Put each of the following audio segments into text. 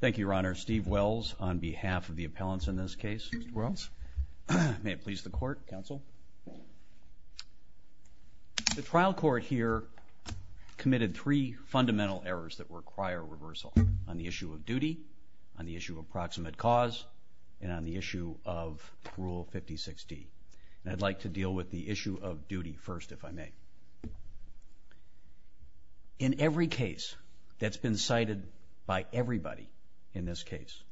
Thank you, Your Honor. Steve Wells on behalf of the appellants in this case. Steve Wells. May it please the Court, Counsel. The trial court here committed three fundamental errors that require reversal on the issue of duty, on the issue of proximate cause, and on the issue of Rule 56D. And I'd like to deal with the issue of duty first, if I may. In every case that's been cited by everybody in this case,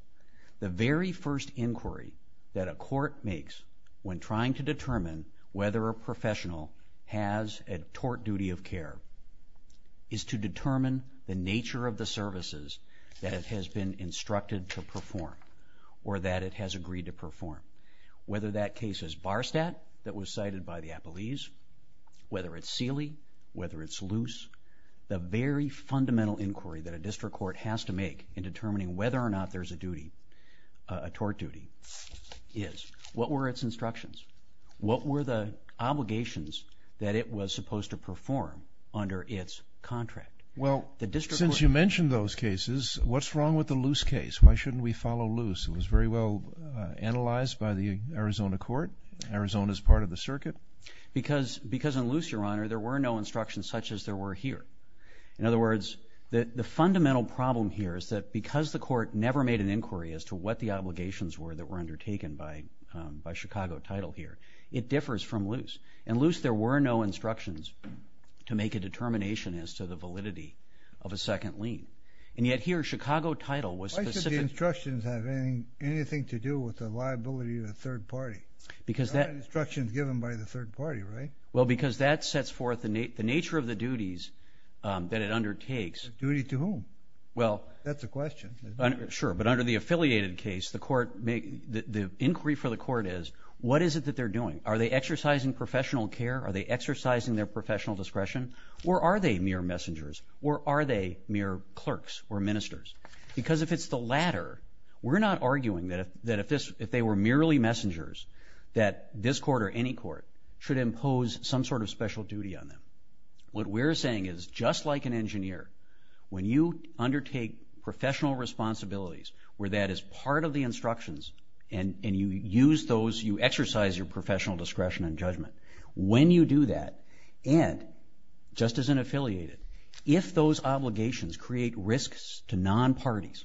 the very first inquiry that a court makes when trying to determine whether a professional has a tort duty of care is to determine the nature of the services that it has been instructed to perform or that it has agreed to perform. Whether that case is Barstatt, that was cited by the appellees, whether it's Seeley, whether it's Luce, the very fundamental inquiry that a district court has to make in determining whether or not there's a tort duty is, what were its instructions? What were the obligations that it was supposed to perform under its contract? Well, since you mentioned those cases, what's wrong with the Luce case? Why shouldn't we follow Luce? It was very well analyzed by the Arizona court. Arizona's part of the circuit. Because in Luce, Your Honor, there were no instructions such as there were here. In other words, the fundamental problem here is that because the court never made an inquiry as to what the obligations were that were undertaken by Chicago title here, it differs from Luce. In Luce, there were no instructions to make a determination as to the validity of a second lien. And yet here, Chicago title was specific. The instructions have anything to do with the liability of a third party. Because that instruction is given by the third party, right? Well, because that sets forth the nature of the duties that it undertakes. Duty to whom? That's the question. Sure, but under the affiliated case, the inquiry for the court is what is it that they're doing? Are they exercising professional care? Are they exercising their professional discretion? Or are they mere messengers? Or are they mere clerks or ministers? Because if it's the latter, we're not arguing that if they were merely messengers that this court or any court should impose some sort of special duty on them. What we're saying is just like an engineer, when you undertake professional responsibilities where that is part of the instructions and you use those, you exercise your professional discretion and judgment, when you do that and just as an affiliated, if those obligations create risks to non-parties,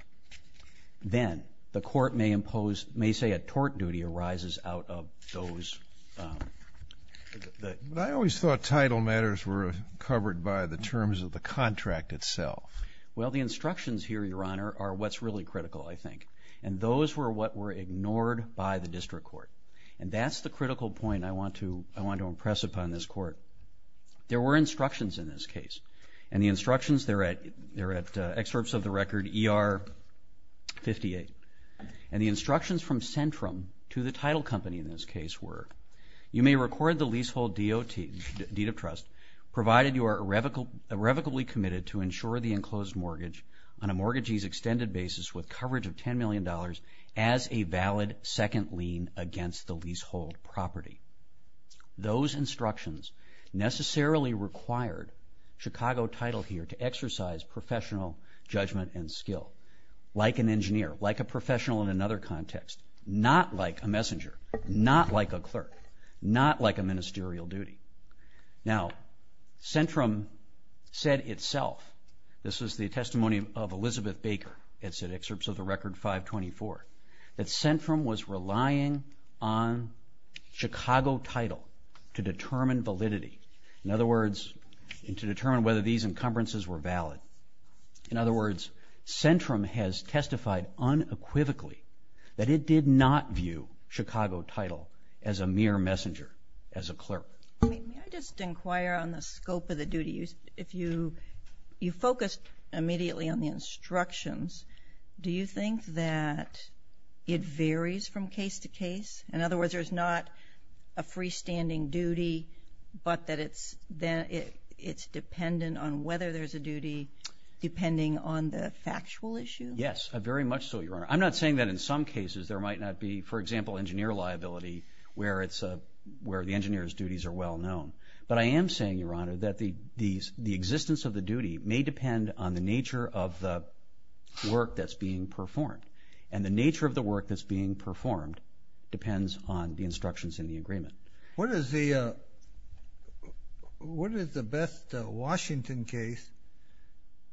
then the court may say a tort duty arises out of those. But I always thought title matters were covered by the terms of the contract itself. Well, the instructions here, Your Honor, are what's really critical, I think. And those were what were ignored by the district court. And that's the critical point I want to impress upon this court. There were instructions in this case. And the instructions, they're at excerpts of the record ER 58. And the instructions from Centrum to the title company in this case were, you may record the leasehold deed of trust provided you are irrevocably committed to insure the enclosed mortgage on a mortgagee's extended basis with coverage of $10 million as a valid second lien against the leasehold property. Those instructions necessarily required Chicago title here to exercise professional judgment and skill. Like an engineer, like a professional in another context, not like a messenger, not like a clerk, not like a ministerial duty. Now, Centrum said itself, this is the testimony of Elizabeth Baker, it's at excerpts of the record 524, that Centrum was relying on Chicago title to determine validity. In other words, to determine whether these encumbrances were valid. In other words, Centrum has testified unequivocally that it did not view Chicago title as a mere messenger, as a clerk. May I just inquire on the scope of the duty? You focused immediately on the instructions. Do you think that it varies from case to case? In other words, there's not a freestanding duty, but that it's dependent on whether there's a duty depending on the factual issue? Yes, very much so, Your Honor. I'm not saying that in some cases there might not be, for example, engineer liability where the engineer's duties are well known. But I am saying, Your Honor, that the existence of the duty may depend on the nature of the work that's being performed. And the nature of the work that's being performed depends on the instructions in the agreement. What is the best Washington case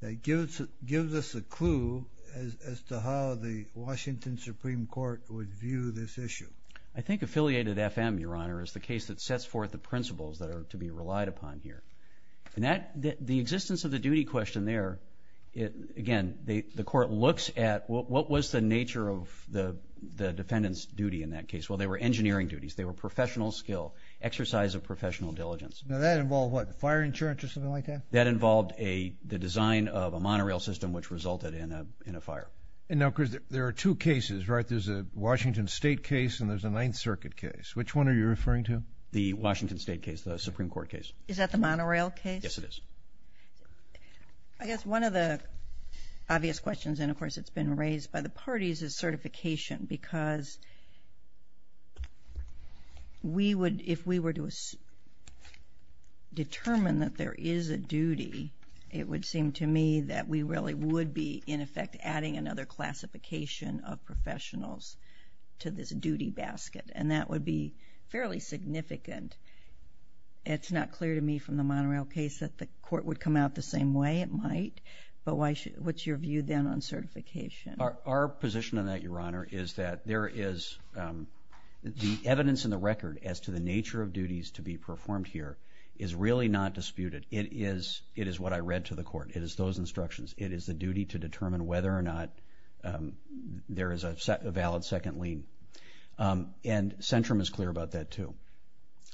that gives us a clue as to how the Washington Supreme Court would view this issue? I think affiliated FM, Your Honor, is the case that sets forth the principles that are to be relied upon here. The existence of the duty question there, again, the court looks at what was the nature of the defendant's duty in that case. Well, they were engineering duties. They were professional skill, exercise of professional diligence. Now, that involved what, fire insurance or something like that? That involved the design of a monorail system which resulted in a fire. And now, Chris, there are two cases, right? There's a Washington State case and there's a Ninth Circuit case. Which one are you referring to? The Washington State case, the Supreme Court case. Is that the monorail case? Yes, it is. I guess one of the obvious questions, and of course it's been raised by the parties, is certification. Because if we were to determine that there is a duty, it would seem to me that we really would be, in effect, adding another classification of professionals to this duty basket. And that would be fairly significant. It's not clear to me from the monorail case that the court would come out the same way. It might. But what's your view then on certification? Our position on that, Your Honor, is that there is the evidence in the record as to the nature of duties to be performed here is really not disputed. It is what I read to the court. It is those instructions. It is the duty to determine whether or not there is a valid second lien. And Centrum is clear about that, too.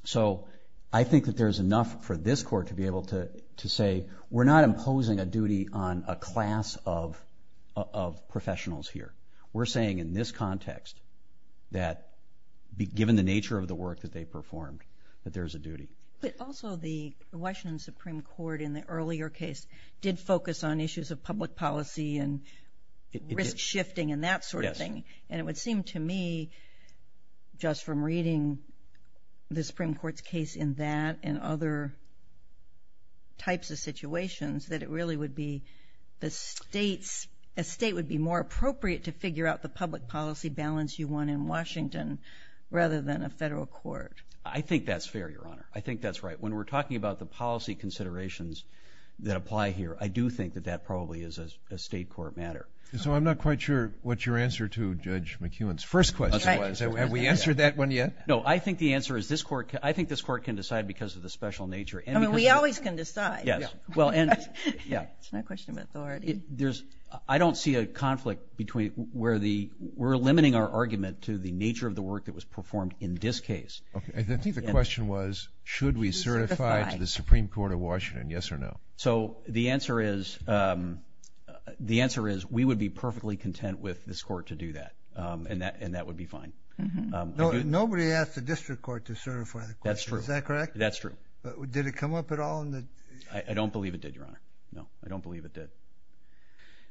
So I think that there's enough for this court to be able to say, we're not imposing a duty on a class of professionals here. We're saying in this context that, given the nature of the work that they performed, that there's a duty. But also the Washington Supreme Court in the earlier case did focus on issues of public policy and risk shifting and that sort of thing. And it would seem to me, just from reading the Supreme Court's case in that and other types of situations, that it really would be a state would be more appropriate to figure out the public policy balance you want in Washington rather than a federal court. I think that's fair, Your Honor. I think that's right. When we're talking about the policy considerations that apply here, I do think that that probably is a state court matter. So I'm not quite sure what your answer to Judge McEwen's first question was. Have we answered that one yet? No. I think the answer is this court can decide because of the special nature. I mean, we always can decide. It's not a question of authority. I don't see a conflict between where we're limiting our argument to the nature of the work that was performed in this case. I think the question was should we certify to the Supreme Court of Washington, yes or no? So the answer is we would be perfectly content with this court to do that, and that would be fine. Nobody asked the district court to certify the question. Is that correct? That's true. Did it come up at all? I don't believe it did, Your Honor. No, I don't believe it did.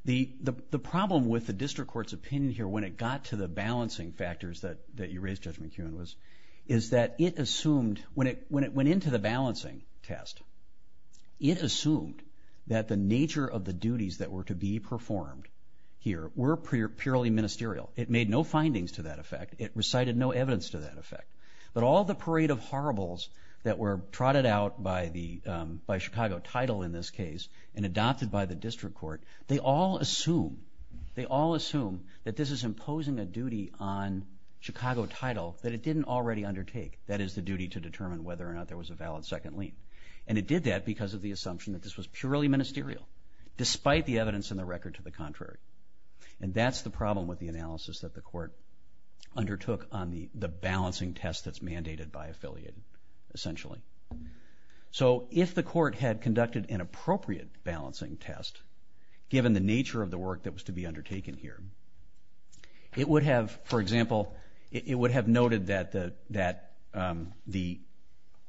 The problem with the district court's opinion here when it got to the balancing factors that you raised, Judge McEwen, is that it assumed when it went into the balancing test, it assumed that the nature of the duties that were to be performed here were purely ministerial. It made no findings to that effect. It recited no evidence to that effect. But all the parade of horribles that were trotted out by Chicago title in this case and adopted by the district court, they all assume that this is imposing a duty on Chicago title that it didn't already undertake. That is, the duty to determine whether or not there was a valid second lien. And it did that because of the assumption that this was purely ministerial, despite the evidence in the record to the contrary. And that's the problem with the analysis that the court undertook on the balancing test that's mandated by affiliate, essentially. So if the court had conducted an appropriate balancing test, given the nature of the work that was to be undertaken here, it would have, for example, it would have noted that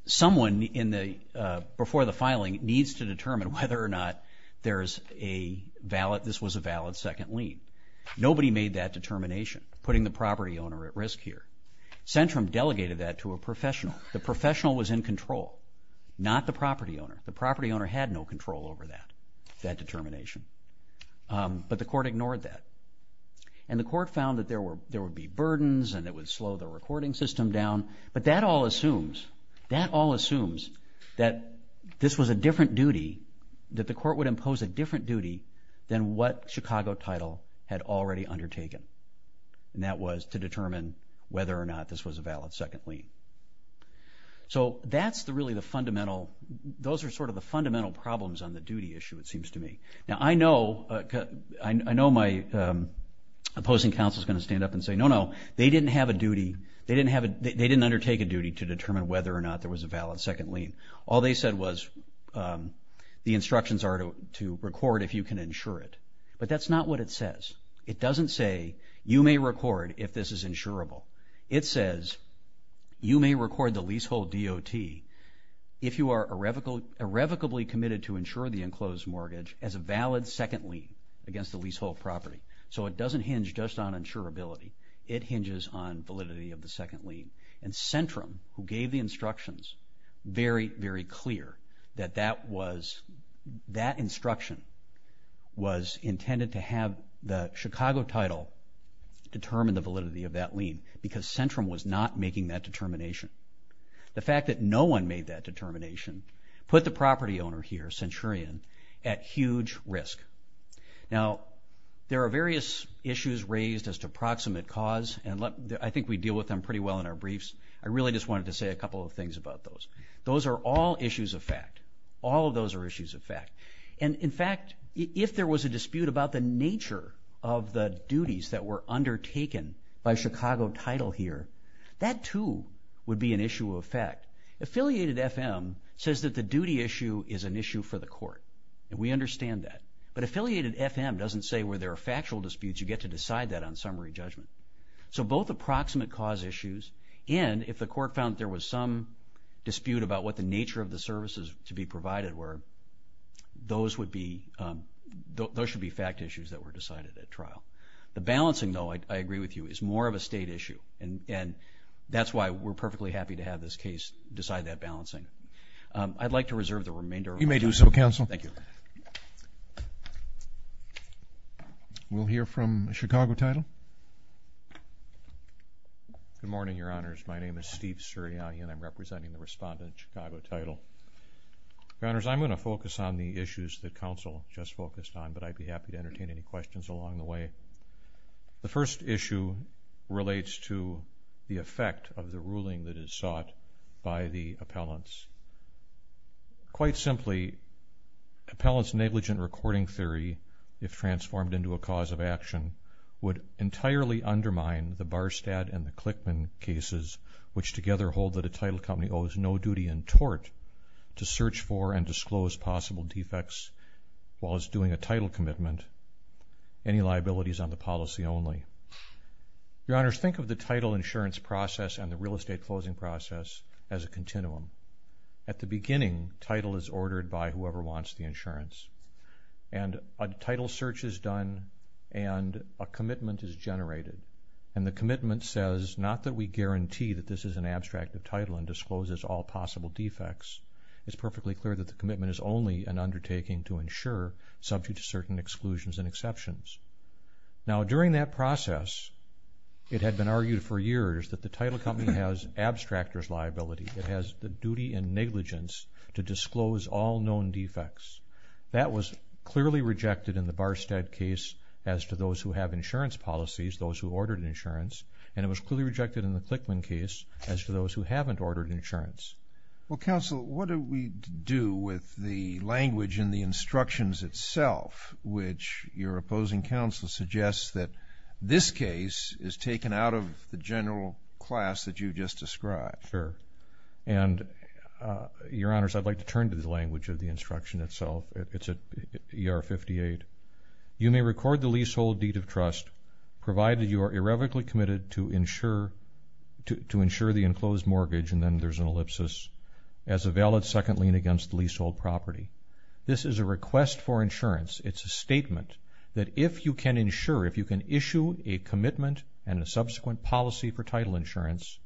someone before the filing needs to determine whether or not this was a valid second lien. Nobody made that determination, putting the property owner at risk here. Centrum delegated that to a professional. The professional was in control, not the property owner. The property owner had no control over that determination. But the court ignored that. And the court found that there would be burdens and it would slow the recording system down. But that all assumes, that all assumes that this was a different duty, that the court would impose a different duty than what Chicago title had already undertaken. And that was to determine whether or not this was a valid second lien. So that's really the fundamental, those are sort of the fundamental problems on the duty issue, it seems to me. Now, I know my opposing counsel is going to stand up and say, no, no, they didn't have a duty, they didn't undertake a duty to determine whether or not there was a valid second lien. All they said was the instructions are to record if you can insure it. But that's not what it says. It doesn't say you may record if this is insurable. It says you may record the leasehold DOT if you are irrevocably committed to insure the enclosed mortgage as a valid second lien against the leasehold property. So it doesn't hinge just on insurability. It hinges on validity of the second lien. And Centrum, who gave the instructions, very, very clear that that was, that instruction was intended to have the Chicago title determine the validity of that lien, because Centrum was not making that determination. The fact that no one made that determination, put the property owner here, Centurion, at huge risk. Now, there are various issues raised as to proximate cause, and I think we deal with them pretty well in our briefs. I really just wanted to say a couple of things about those. Those are all issues of fact. All of those are issues of fact. And, in fact, if there was a dispute about the nature of the duties that were undertaken by Chicago title here, that, too, would be an issue of fact. Affiliated FM says that the duty issue is an issue for the court, and we understand that. But Affiliated FM doesn't say where there are factual disputes. You get to decide that on summary judgment. So both approximate cause issues, and if the court found that there was some dispute about what the nature of the services to be provided were, those should be fact issues that were decided at trial. The balancing, though, I agree with you, is more of a state issue, and that's why we're perfectly happy to have this case decide that balancing. I'd like to reserve the remainder of my time. You may do so, counsel. Thank you. We'll hear from Chicago title. Good morning, Your Honors. My name is Steve Sirianni, and I'm representing the respondent, Chicago title. Your Honors, I'm going to focus on the issues that counsel just focused on, but I'd be happy to entertain any questions along the way. The first issue relates to the effect of the ruling that is sought by the appellants. Quite simply, appellants' negligent recording theory, if transformed into a cause of action, would entirely undermine the Barstad and the Clickman cases, which together hold that a title company owes no duty in tort to search for and disclose possible defects while it's doing a title commitment. Any liabilities on the policy only. Your Honors, think of the title insurance process and the real estate closing process as a continuum. At the beginning, title is ordered by whoever wants the insurance, and a title search is done and a commitment is generated. And the commitment says not that we guarantee that this is an abstract of title and discloses all possible defects. It's perfectly clear that the commitment is only an undertaking to insure, subject to certain exclusions and exceptions. Now, during that process, it had been argued for years that the title company has abstractors' liability. It has the duty and negligence to disclose all known defects. That was clearly rejected in the Barstad case as to those who have insurance policies, those who ordered insurance, and it was clearly rejected in the Clickman case as to those who haven't ordered insurance. Well, Counsel, what do we do with the language in the instructions itself, which your opposing counsel suggests that this case is taken out of the general class that you just described? Sure. And, Your Honors, I'd like to turn to the language of the instruction itself. It's at ER 58. You may record the leasehold deed of trust, provided you are irrevocably committed to insure the enclosed mortgage, and then there's an ellipsis, as a valid second lien against the leasehold property. This is a request for insurance. It's a statement that if you can insure, if you can issue a commitment and a subsequent policy for title insurance,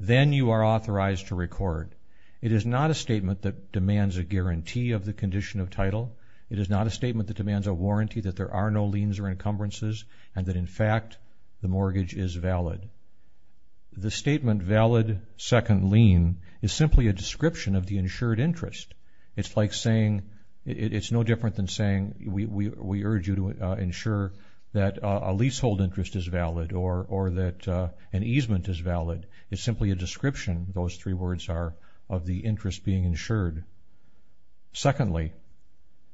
then you are authorized to record. It is not a statement that demands a guarantee of the condition of title. It is not a statement that demands a warranty that there are no liens or encumbrances, and that, in fact, the mortgage is valid. The statement, valid second lien, is simply a description of the insured interest. It's like saying, it's no different than saying, we urge you to insure that a leasehold interest is valid or that an easement is valid. It's simply a description, those three words are, of the interest being insured. Secondly,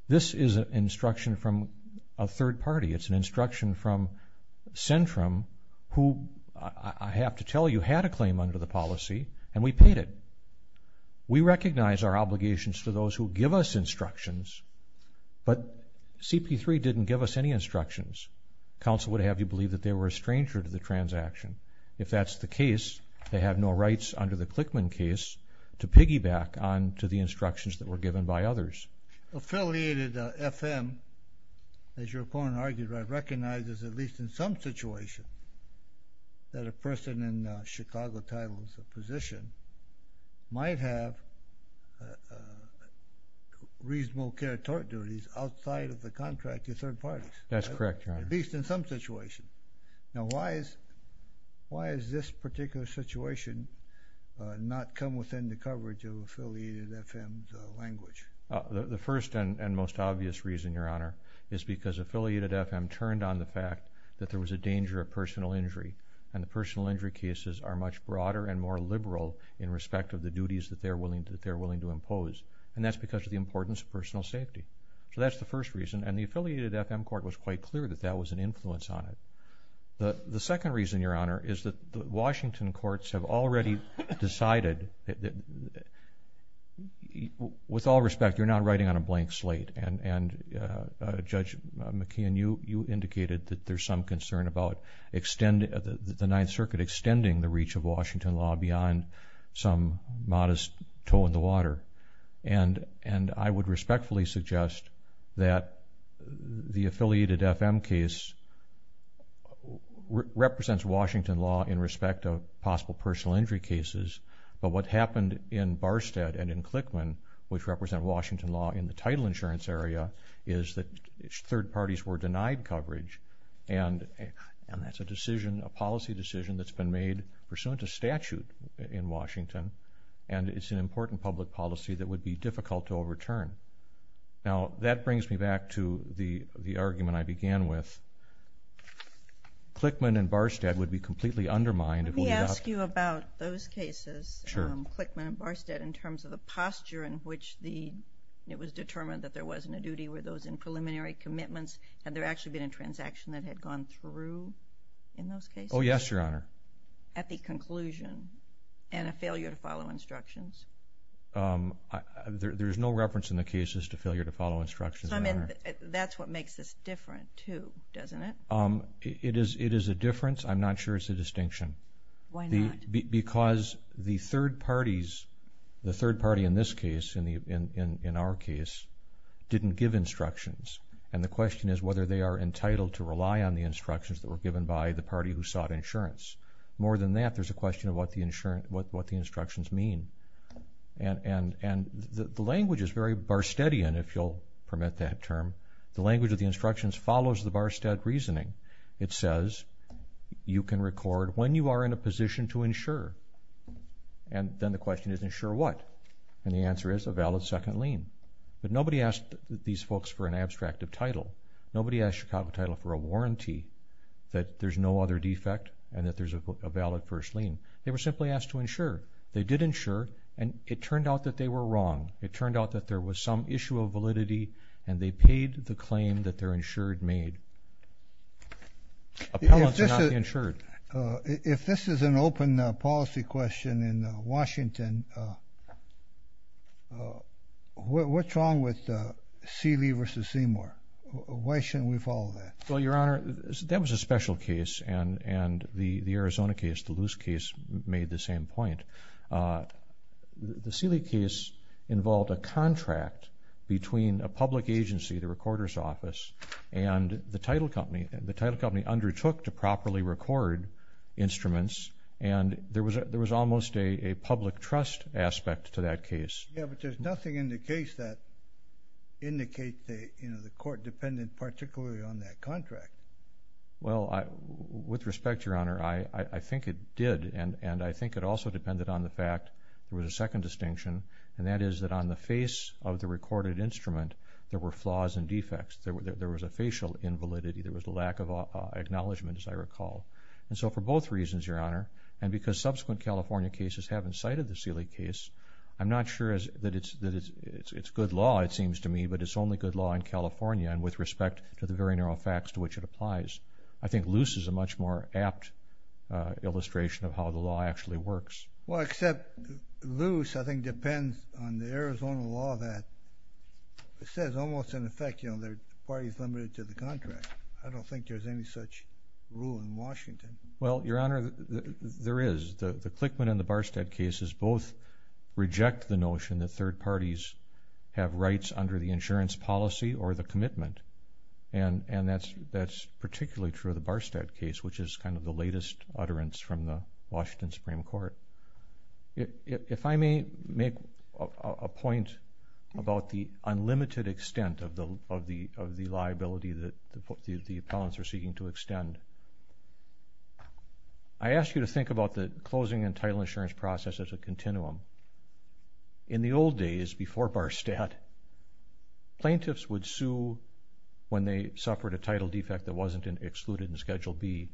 this is an instruction from a third party. It's an instruction from Centrum, who, I have to tell you, had a claim under the policy, and we paid it. We recognize our obligations to those who give us instructions, but CP3 didn't give us any instructions. Counsel would have you believe that they were a stranger to the transaction. If that's the case, they have no rights under the Clickman case to piggyback on to the instructions that were given by others. Affiliated FM, as your opponent argued, recognizes, at least in some situation, that a person in Chicago Title's position might have reasonable care tort duties outside of the contract of third parties. That's correct, Your Honor. At least in some situation. Now, why is this particular situation not come within the coverage of Affiliated FM's language? The first and most obvious reason, Your Honor, is because Affiliated FM turned on the fact that there was a danger of personal injury, and the personal injury cases are much broader and more liberal in respect of the duties that they're willing to impose, and that's because of the importance of personal safety. So that's the first reason, and the Affiliated FM court was quite clear that that was an influence on it. The second reason, Your Honor, is that the Washington courts have already decided that, with all respect, you're not writing on a blank slate, and Judge McKeon, you indicated that there's some concern about the Ninth Circuit extending the reach of Washington law beyond some modest toe in the water, and I would respectfully suggest that the Affiliated FM case represents Washington law in respect of possible personal injury cases, but what happened in Barstead and in Clickman, which represent Washington law in the title insurance area, is that third parties were denied coverage, and that's a decision, a policy decision, that's been made pursuant to statute in Washington, and it's an important public policy that would be difficult to overturn. Now, that brings me back to the argument I began with. Clickman and Barstead would be completely undermined. Let me ask you about those cases, Clickman and Barstead, in terms of the posture in which it was determined that there wasn't a duty. Were those in preliminary commitments? Had there actually been a transaction that had gone through in those cases? Oh, yes, Your Honor. At the conclusion, and a failure to follow instructions? There's no reference in the cases to failure to follow instructions. I mean, that's what makes this different too, doesn't it? It is a difference. I'm not sure it's a distinction. Why not? Because the third parties, the third party in this case, in our case, didn't give instructions, and the question is whether they are entitled to rely on the instructions that were given by the party who sought insurance. More than that, there's a question of what the instructions mean. And the language is very Barsteadian, if you'll permit that term. The language of the instructions follows the Barstead reasoning. It says you can record when you are in a position to insure, and then the question is, insure what? And the answer is a valid second lien. But nobody asked these folks for an abstract of title. Nobody asked Chicago Title for a warranty that there's no other defect and that there's a valid first lien. They were simply asked to insure. They did insure, and it turned out that they were wrong. It turned out that there was some issue of validity, and they paid the claim that their insured made. Appellants are not insured. If this is an open policy question in Washington, what's wrong with Seeley v. Seymour? Why shouldn't we follow that? Well, Your Honor, that was a special case, and the Arizona case, the loose case, made the same point. The Seeley case involved a contract between a public agency, the recorder's office, and the title company. The title company undertook to properly record instruments, and there was almost a public trust aspect to that case. Yeah, but there's nothing in the case that indicates the court depended particularly on that contract. Well, with respect, Your Honor, I think it did, and I think it also depended on the fact there was a second distinction, and that is that on the face of the recorded instrument there were flaws and defects. There was a facial invalidity. There was a lack of acknowledgment, as I recall. And so for both reasons, Your Honor, and because subsequent California cases haven't cited the Seeley case, I'm not sure that it's good law, it seems to me, but it's only good law in California, and with respect to the very narrow facts to which it applies. I think Luce is a much more apt illustration of how the law actually works. Well, except Luce, I think, depends on the Arizona law that says almost in effect, you know, the party's limited to the contract. I don't think there's any such rule in Washington. Well, Your Honor, there is. The Clickman and the Barstead cases both reject the notion that third parties have rights under the insurance policy or the commitment, and that's particularly true of the Barstead case, which is kind of the latest utterance from the Washington Supreme Court. If I may make a point about the unlimited extent of the liability that the appellants are seeking to extend, I ask you to think about the closing and title insurance process as a continuum. In the old days, before Barstead, plaintiffs would sue when they suffered a title defect that wasn't excluded in Schedule B,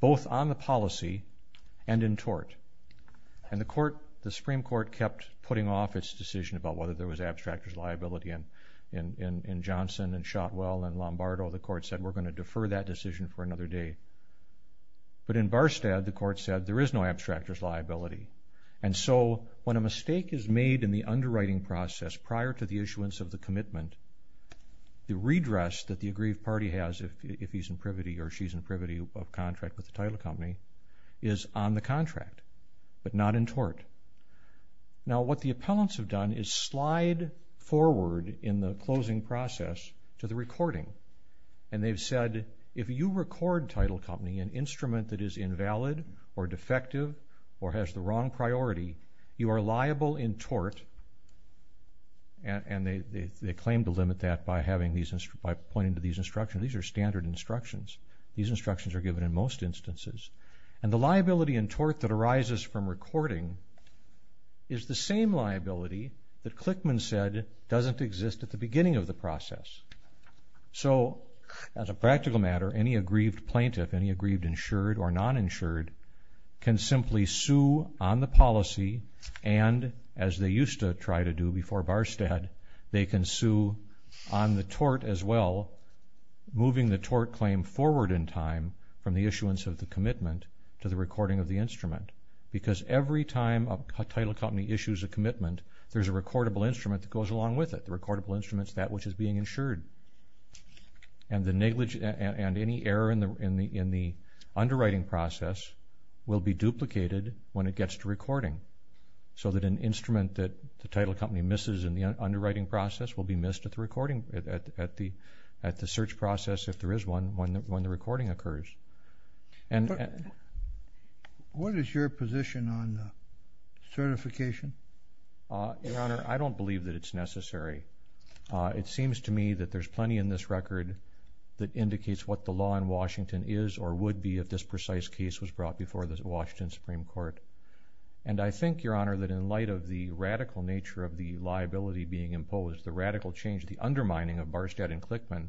both on the policy and in tort. And the Supreme Court kept putting off its decision about whether there was abstractor's liability. In Johnson and Shotwell and Lombardo, the court said, we're going to defer that decision for another day. But in Barstead, the court said, there is no abstractor's liability. And so when a mistake is made in the underwriting process prior to the issuance of the commitment, the redress that the aggrieved party has, if he's in privity or she's in privity of contract with the title company, is on the contract, but not in tort. Now, what the appellants have done is slide forward in the closing process to the recording. And they've said, if you record title company, an instrument that is invalid or defective or has the wrong priority, you are liable in tort. And they claim to limit that by pointing to these instructions. These are standard instructions. These instructions are given in most instances. And the liability in tort that arises from recording is the same liability that Clickman said doesn't exist at the beginning of the process. So as a practical matter, any aggrieved plaintiff, any aggrieved insured or noninsured, can simply sue on the policy, and as they used to try to do before Barstad, they can sue on the tort as well, moving the tort claim forward in time from the issuance of the commitment to the recording of the instrument. Because every time a title company issues a commitment, there's a recordable instrument that goes along with it. The recordable instrument is that which is being insured. And any error in the underwriting process will be duplicated when it gets to recording, so that an instrument that the title company misses in the underwriting process will be missed at the recording, at the search process, if there is one, when the recording occurs. What is your position on certification? Your Honor, I don't believe that it's necessary. It seems to me that there's plenty in this record that indicates what the law in Washington is or would be if this precise case was brought before the Washington Supreme Court. And I think, Your Honor, that in light of the radical nature of the liability being imposed, the radical change, the undermining of Barstad and Clickman,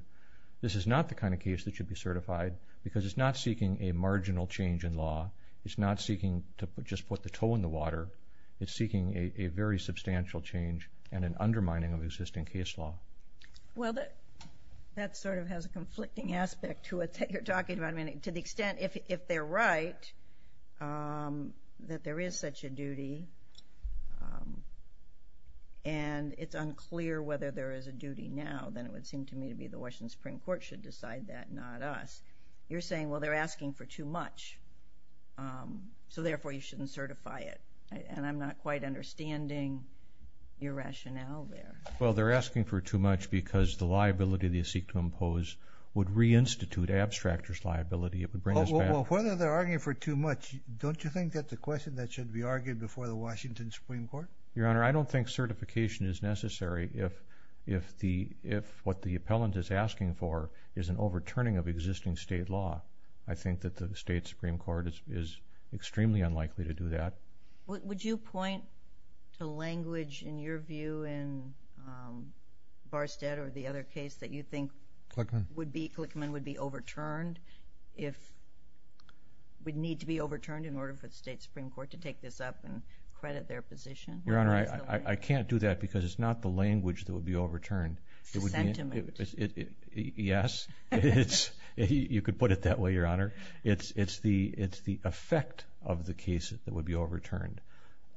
this is not the kind of case that should be certified because it's not seeking a marginal change in law. It's not seeking to just put the toe in the water. It's seeking a very substantial change and an undermining of existing case law. Well, that sort of has a conflicting aspect to it that you're talking about. I mean, to the extent, if they're right, that there is such a duty and it's unclear whether there is a duty now, then it would seem to me to be the Washington Supreme Court should decide that, not us. You're saying, well, they're asking for too much, so therefore you shouldn't certify it. And I'm not quite understanding your rationale there. Well, they're asking for too much because the liability they seek to impose would reinstitute abstractor's liability. It would bring us back... Well, whether they're arguing for too much, don't you think that's a question that should be argued before the Washington Supreme Court? Your Honor, I don't think certification is necessary if what the appellant is asking for is an overturning of existing state law. I think that the state Supreme Court is extremely unlikely to do that. Would you point to language, in your view, in Barstead or the other case, that you think Clickman would be overturned, if it would need to be overturned in order for the state Supreme Court to take this up and credit their position? Your Honor, I can't do that because it's not the language that would be overturned. It's the sentiment. Yes. You could put it that way, Your Honor. It's the effect of the case that would be overturned.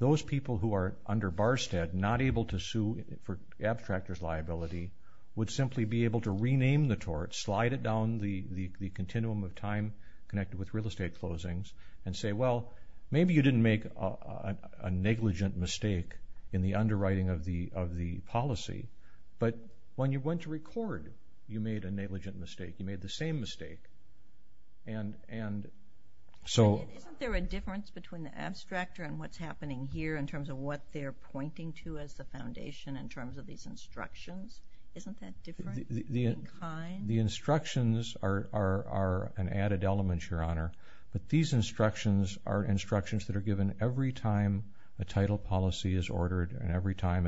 Those people who are under Barstead not able to sue for abstractor's liability would simply be able to rename the tort, slide it down the continuum of time connected with real estate closings, and say, well, maybe you didn't make a negligent mistake in the underwriting of the policy, but when you went to record, you made a negligent mistake. You made the same mistake. And so... Isn't there a difference between the abstractor and what's happening here in terms of what they're pointing to as the foundation in terms of these instructions? Isn't that different in kind? The instructions are an added element, Your Honor. But these instructions are instructions and every time a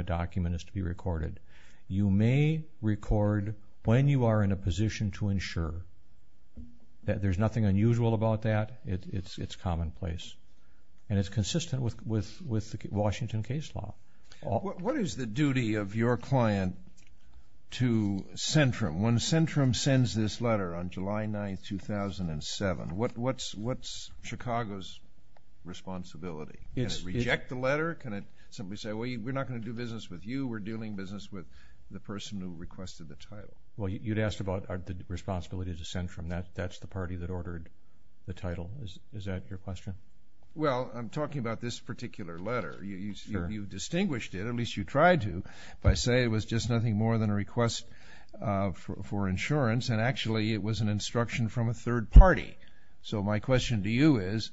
document is to be recorded. You may record when you are in a position to ensure that there's nothing unusual about that. It's commonplace. And it's consistent with Washington case law. What is the duty of your client to Centrum? When Centrum sends this letter on July 9, 2007, what's Chicago's responsibility? Can it reject the letter? Can it simply say, well, we're not going to do business with you, we're dealing business with the person who requested the title? Well, you'd asked about the responsibility to Centrum. That's the party that ordered the title. Is that your question? Well, I'm talking about this particular letter. You distinguished it, at least you tried to, by saying it was just nothing more than a request for insurance and actually it was an instruction from a third party. So my question to you is,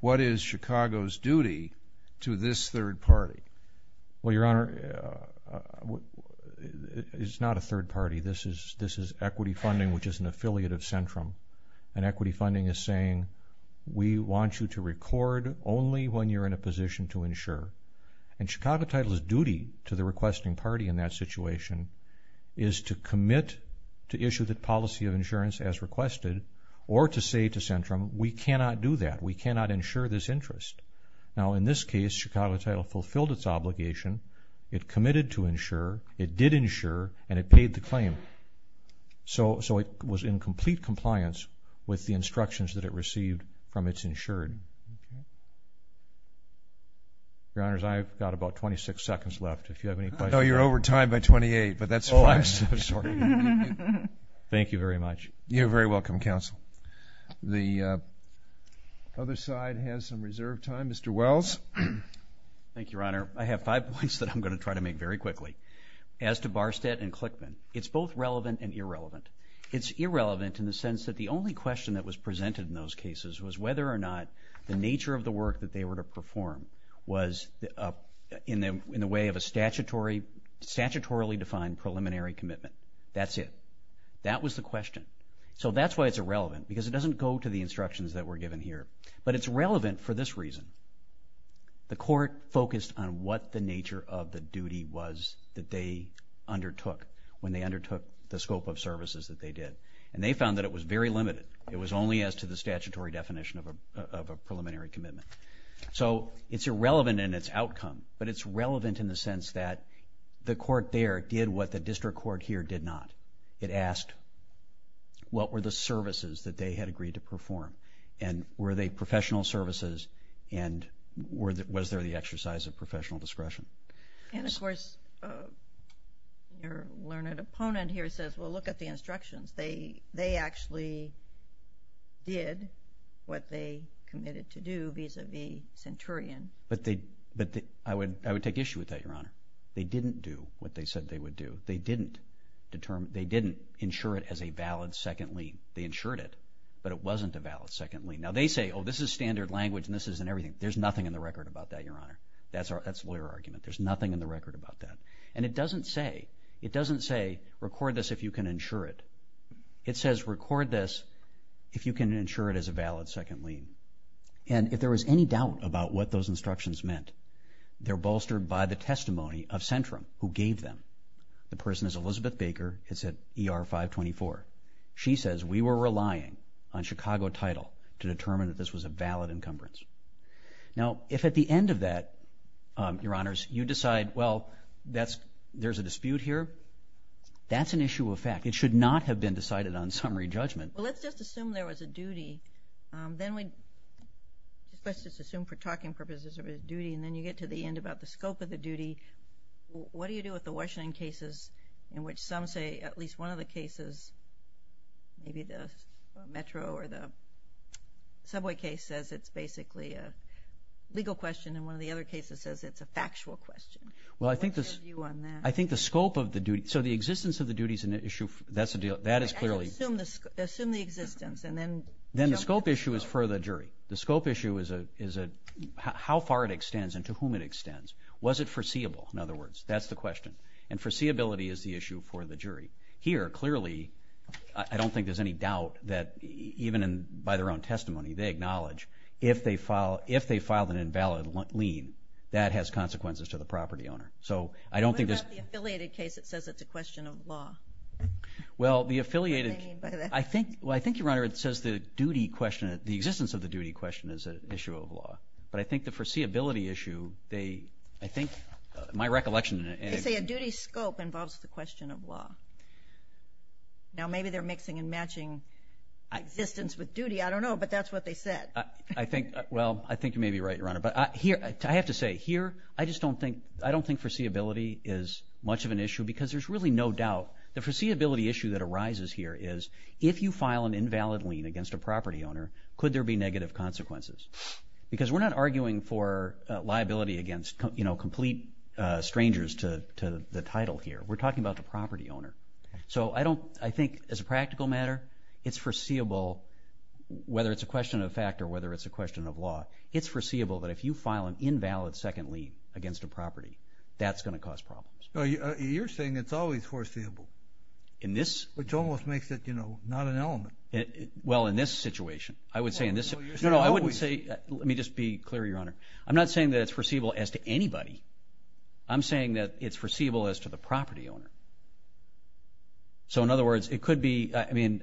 what is Chicago's duty to this third party? Well, Your Honor, it's not a third party. This is equity funding, which is an affiliate of Centrum. And equity funding is saying, we want you to record only when you're in a position to insure. And Chicago Title's duty to the requesting party in that situation is to commit to issue the policy of insurance as requested or to say to Centrum, we cannot do that, we cannot insure this interest. Now, in this case, Chicago Title fulfilled its obligation, it committed to insure, it did insure, and it paid the claim. So it was in complete compliance with the instructions that it received from its insured. Your Honors, I've got about 26 seconds left, if you have any questions. I know you're over time by 28, but that's fine. Oh, I'm so sorry. Thank you very much. You're very welcome, Counsel. The other side has some reserve time. Mr. Wells? Thank you, Your Honor. I have five points that I'm going to try to make very quickly. As to Barstett and Clickman, it's both relevant and irrelevant. It's irrelevant in the sense that the only question that was presented in those cases was whether or not the nature of the work that they were to perform was in the way of a statutorily defined preliminary commitment. That's it. That was the question. So that's why it's irrelevant, because it doesn't go to the instructions that were given here. But it's relevant for this reason. The court focused on what the nature of the duty was that they undertook when they undertook the scope of services that they did, and they found that it was very limited. It was only as to the statutory definition of a preliminary commitment. So it's irrelevant in its outcome, but it's relevant in the sense that the court there did what the district court here did not. It asked what were the services that they had agreed to perform, and were they professional services, and was there the exercise of professional discretion. And, of course, your learned opponent here says, well, look at the instructions. They actually did what they committed to do vis-à-vis Centurion. But I would take issue with that, Your Honor. They didn't do what they said they would do. They didn't insure it as a valid second lien. They insured it, but it wasn't a valid second lien. Now, they say, oh, this is standard language, and this isn't everything. There's nothing in the record about that, Your Honor. That's a lawyer argument. There's nothing in the record about that. And it doesn't say, record this if you can insure it. It says, record this if you can insure it as a valid second lien. And if there was any doubt about what those instructions meant, they're bolstered by the testimony of Centurion, who gave them. The person is Elizabeth Baker. It's at ER 524. She says, we were relying on Chicago title to determine that this was a valid encumbrance. Now, if at the end of that, Your Honors, you decide, well, there's a dispute here, that's an issue of fact. It should not have been decided on summary judgment. Well, let's just assume there was a duty. Let's just assume for talking purposes there was a duty, and then you get to the end about the scope of the duty. What do you do with the Washington cases in which some say at least one of the cases, maybe the metro or the subway case says it's basically a legal question and one of the other cases says it's a factual question? Well, I think the scope of the duty, so the existence of the duty is an issue. That is clearly. Assume the existence and then. Then the scope issue is for the jury. The scope issue is how far it extends and to whom it extends. Was it foreseeable, in other words? That's the question. And foreseeability is the issue for the jury. Here, clearly, I don't think there's any doubt that even by their own testimony, they acknowledge if they filed an invalid lien, that has consequences to the property owner. So I don't think. What about the affiliated case that says it's a question of law? Well, the affiliated. What do they mean by that? Well, I think, Your Honor, it says the duty question, the existence of the duty question is an issue of law. But I think the foreseeability issue, they, I think, my recollection. They say a duty scope involves the question of law. Now, maybe they're mixing and matching existence with duty. I don't know, but that's what they said. Well, I think you may be right, Your Honor. But I have to say, here, I just don't think foreseeability is much of an issue because there's really no doubt. The foreseeability issue that arises here is, if you file an invalid lien against a property owner, could there be negative consequences? Because we're not arguing for liability against complete strangers to the title here. We're talking about the property owner. So I think, as a practical matter, it's foreseeable, whether it's a question of fact or whether it's a question of law, it's foreseeable that if you file an invalid second lien against a property, that's going to cause problems. Well, you're saying it's always foreseeable. In this? Which almost makes it, you know, not an element. Well, in this situation. I would say in this situation. No, no, I wouldn't say, let me just be clear, Your Honor. I'm not saying that it's foreseeable as to anybody. I'm saying that it's foreseeable as to the property owner. So, in other words, it could be, I mean,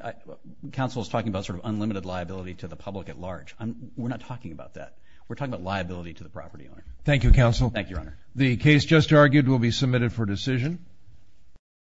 counsel is talking about sort of unlimited liability to the public at large. We're not talking about that. We're talking about liability to the property owner. Thank you, counsel. Thank you, Your Honor. The case just argued will be submitted for decision.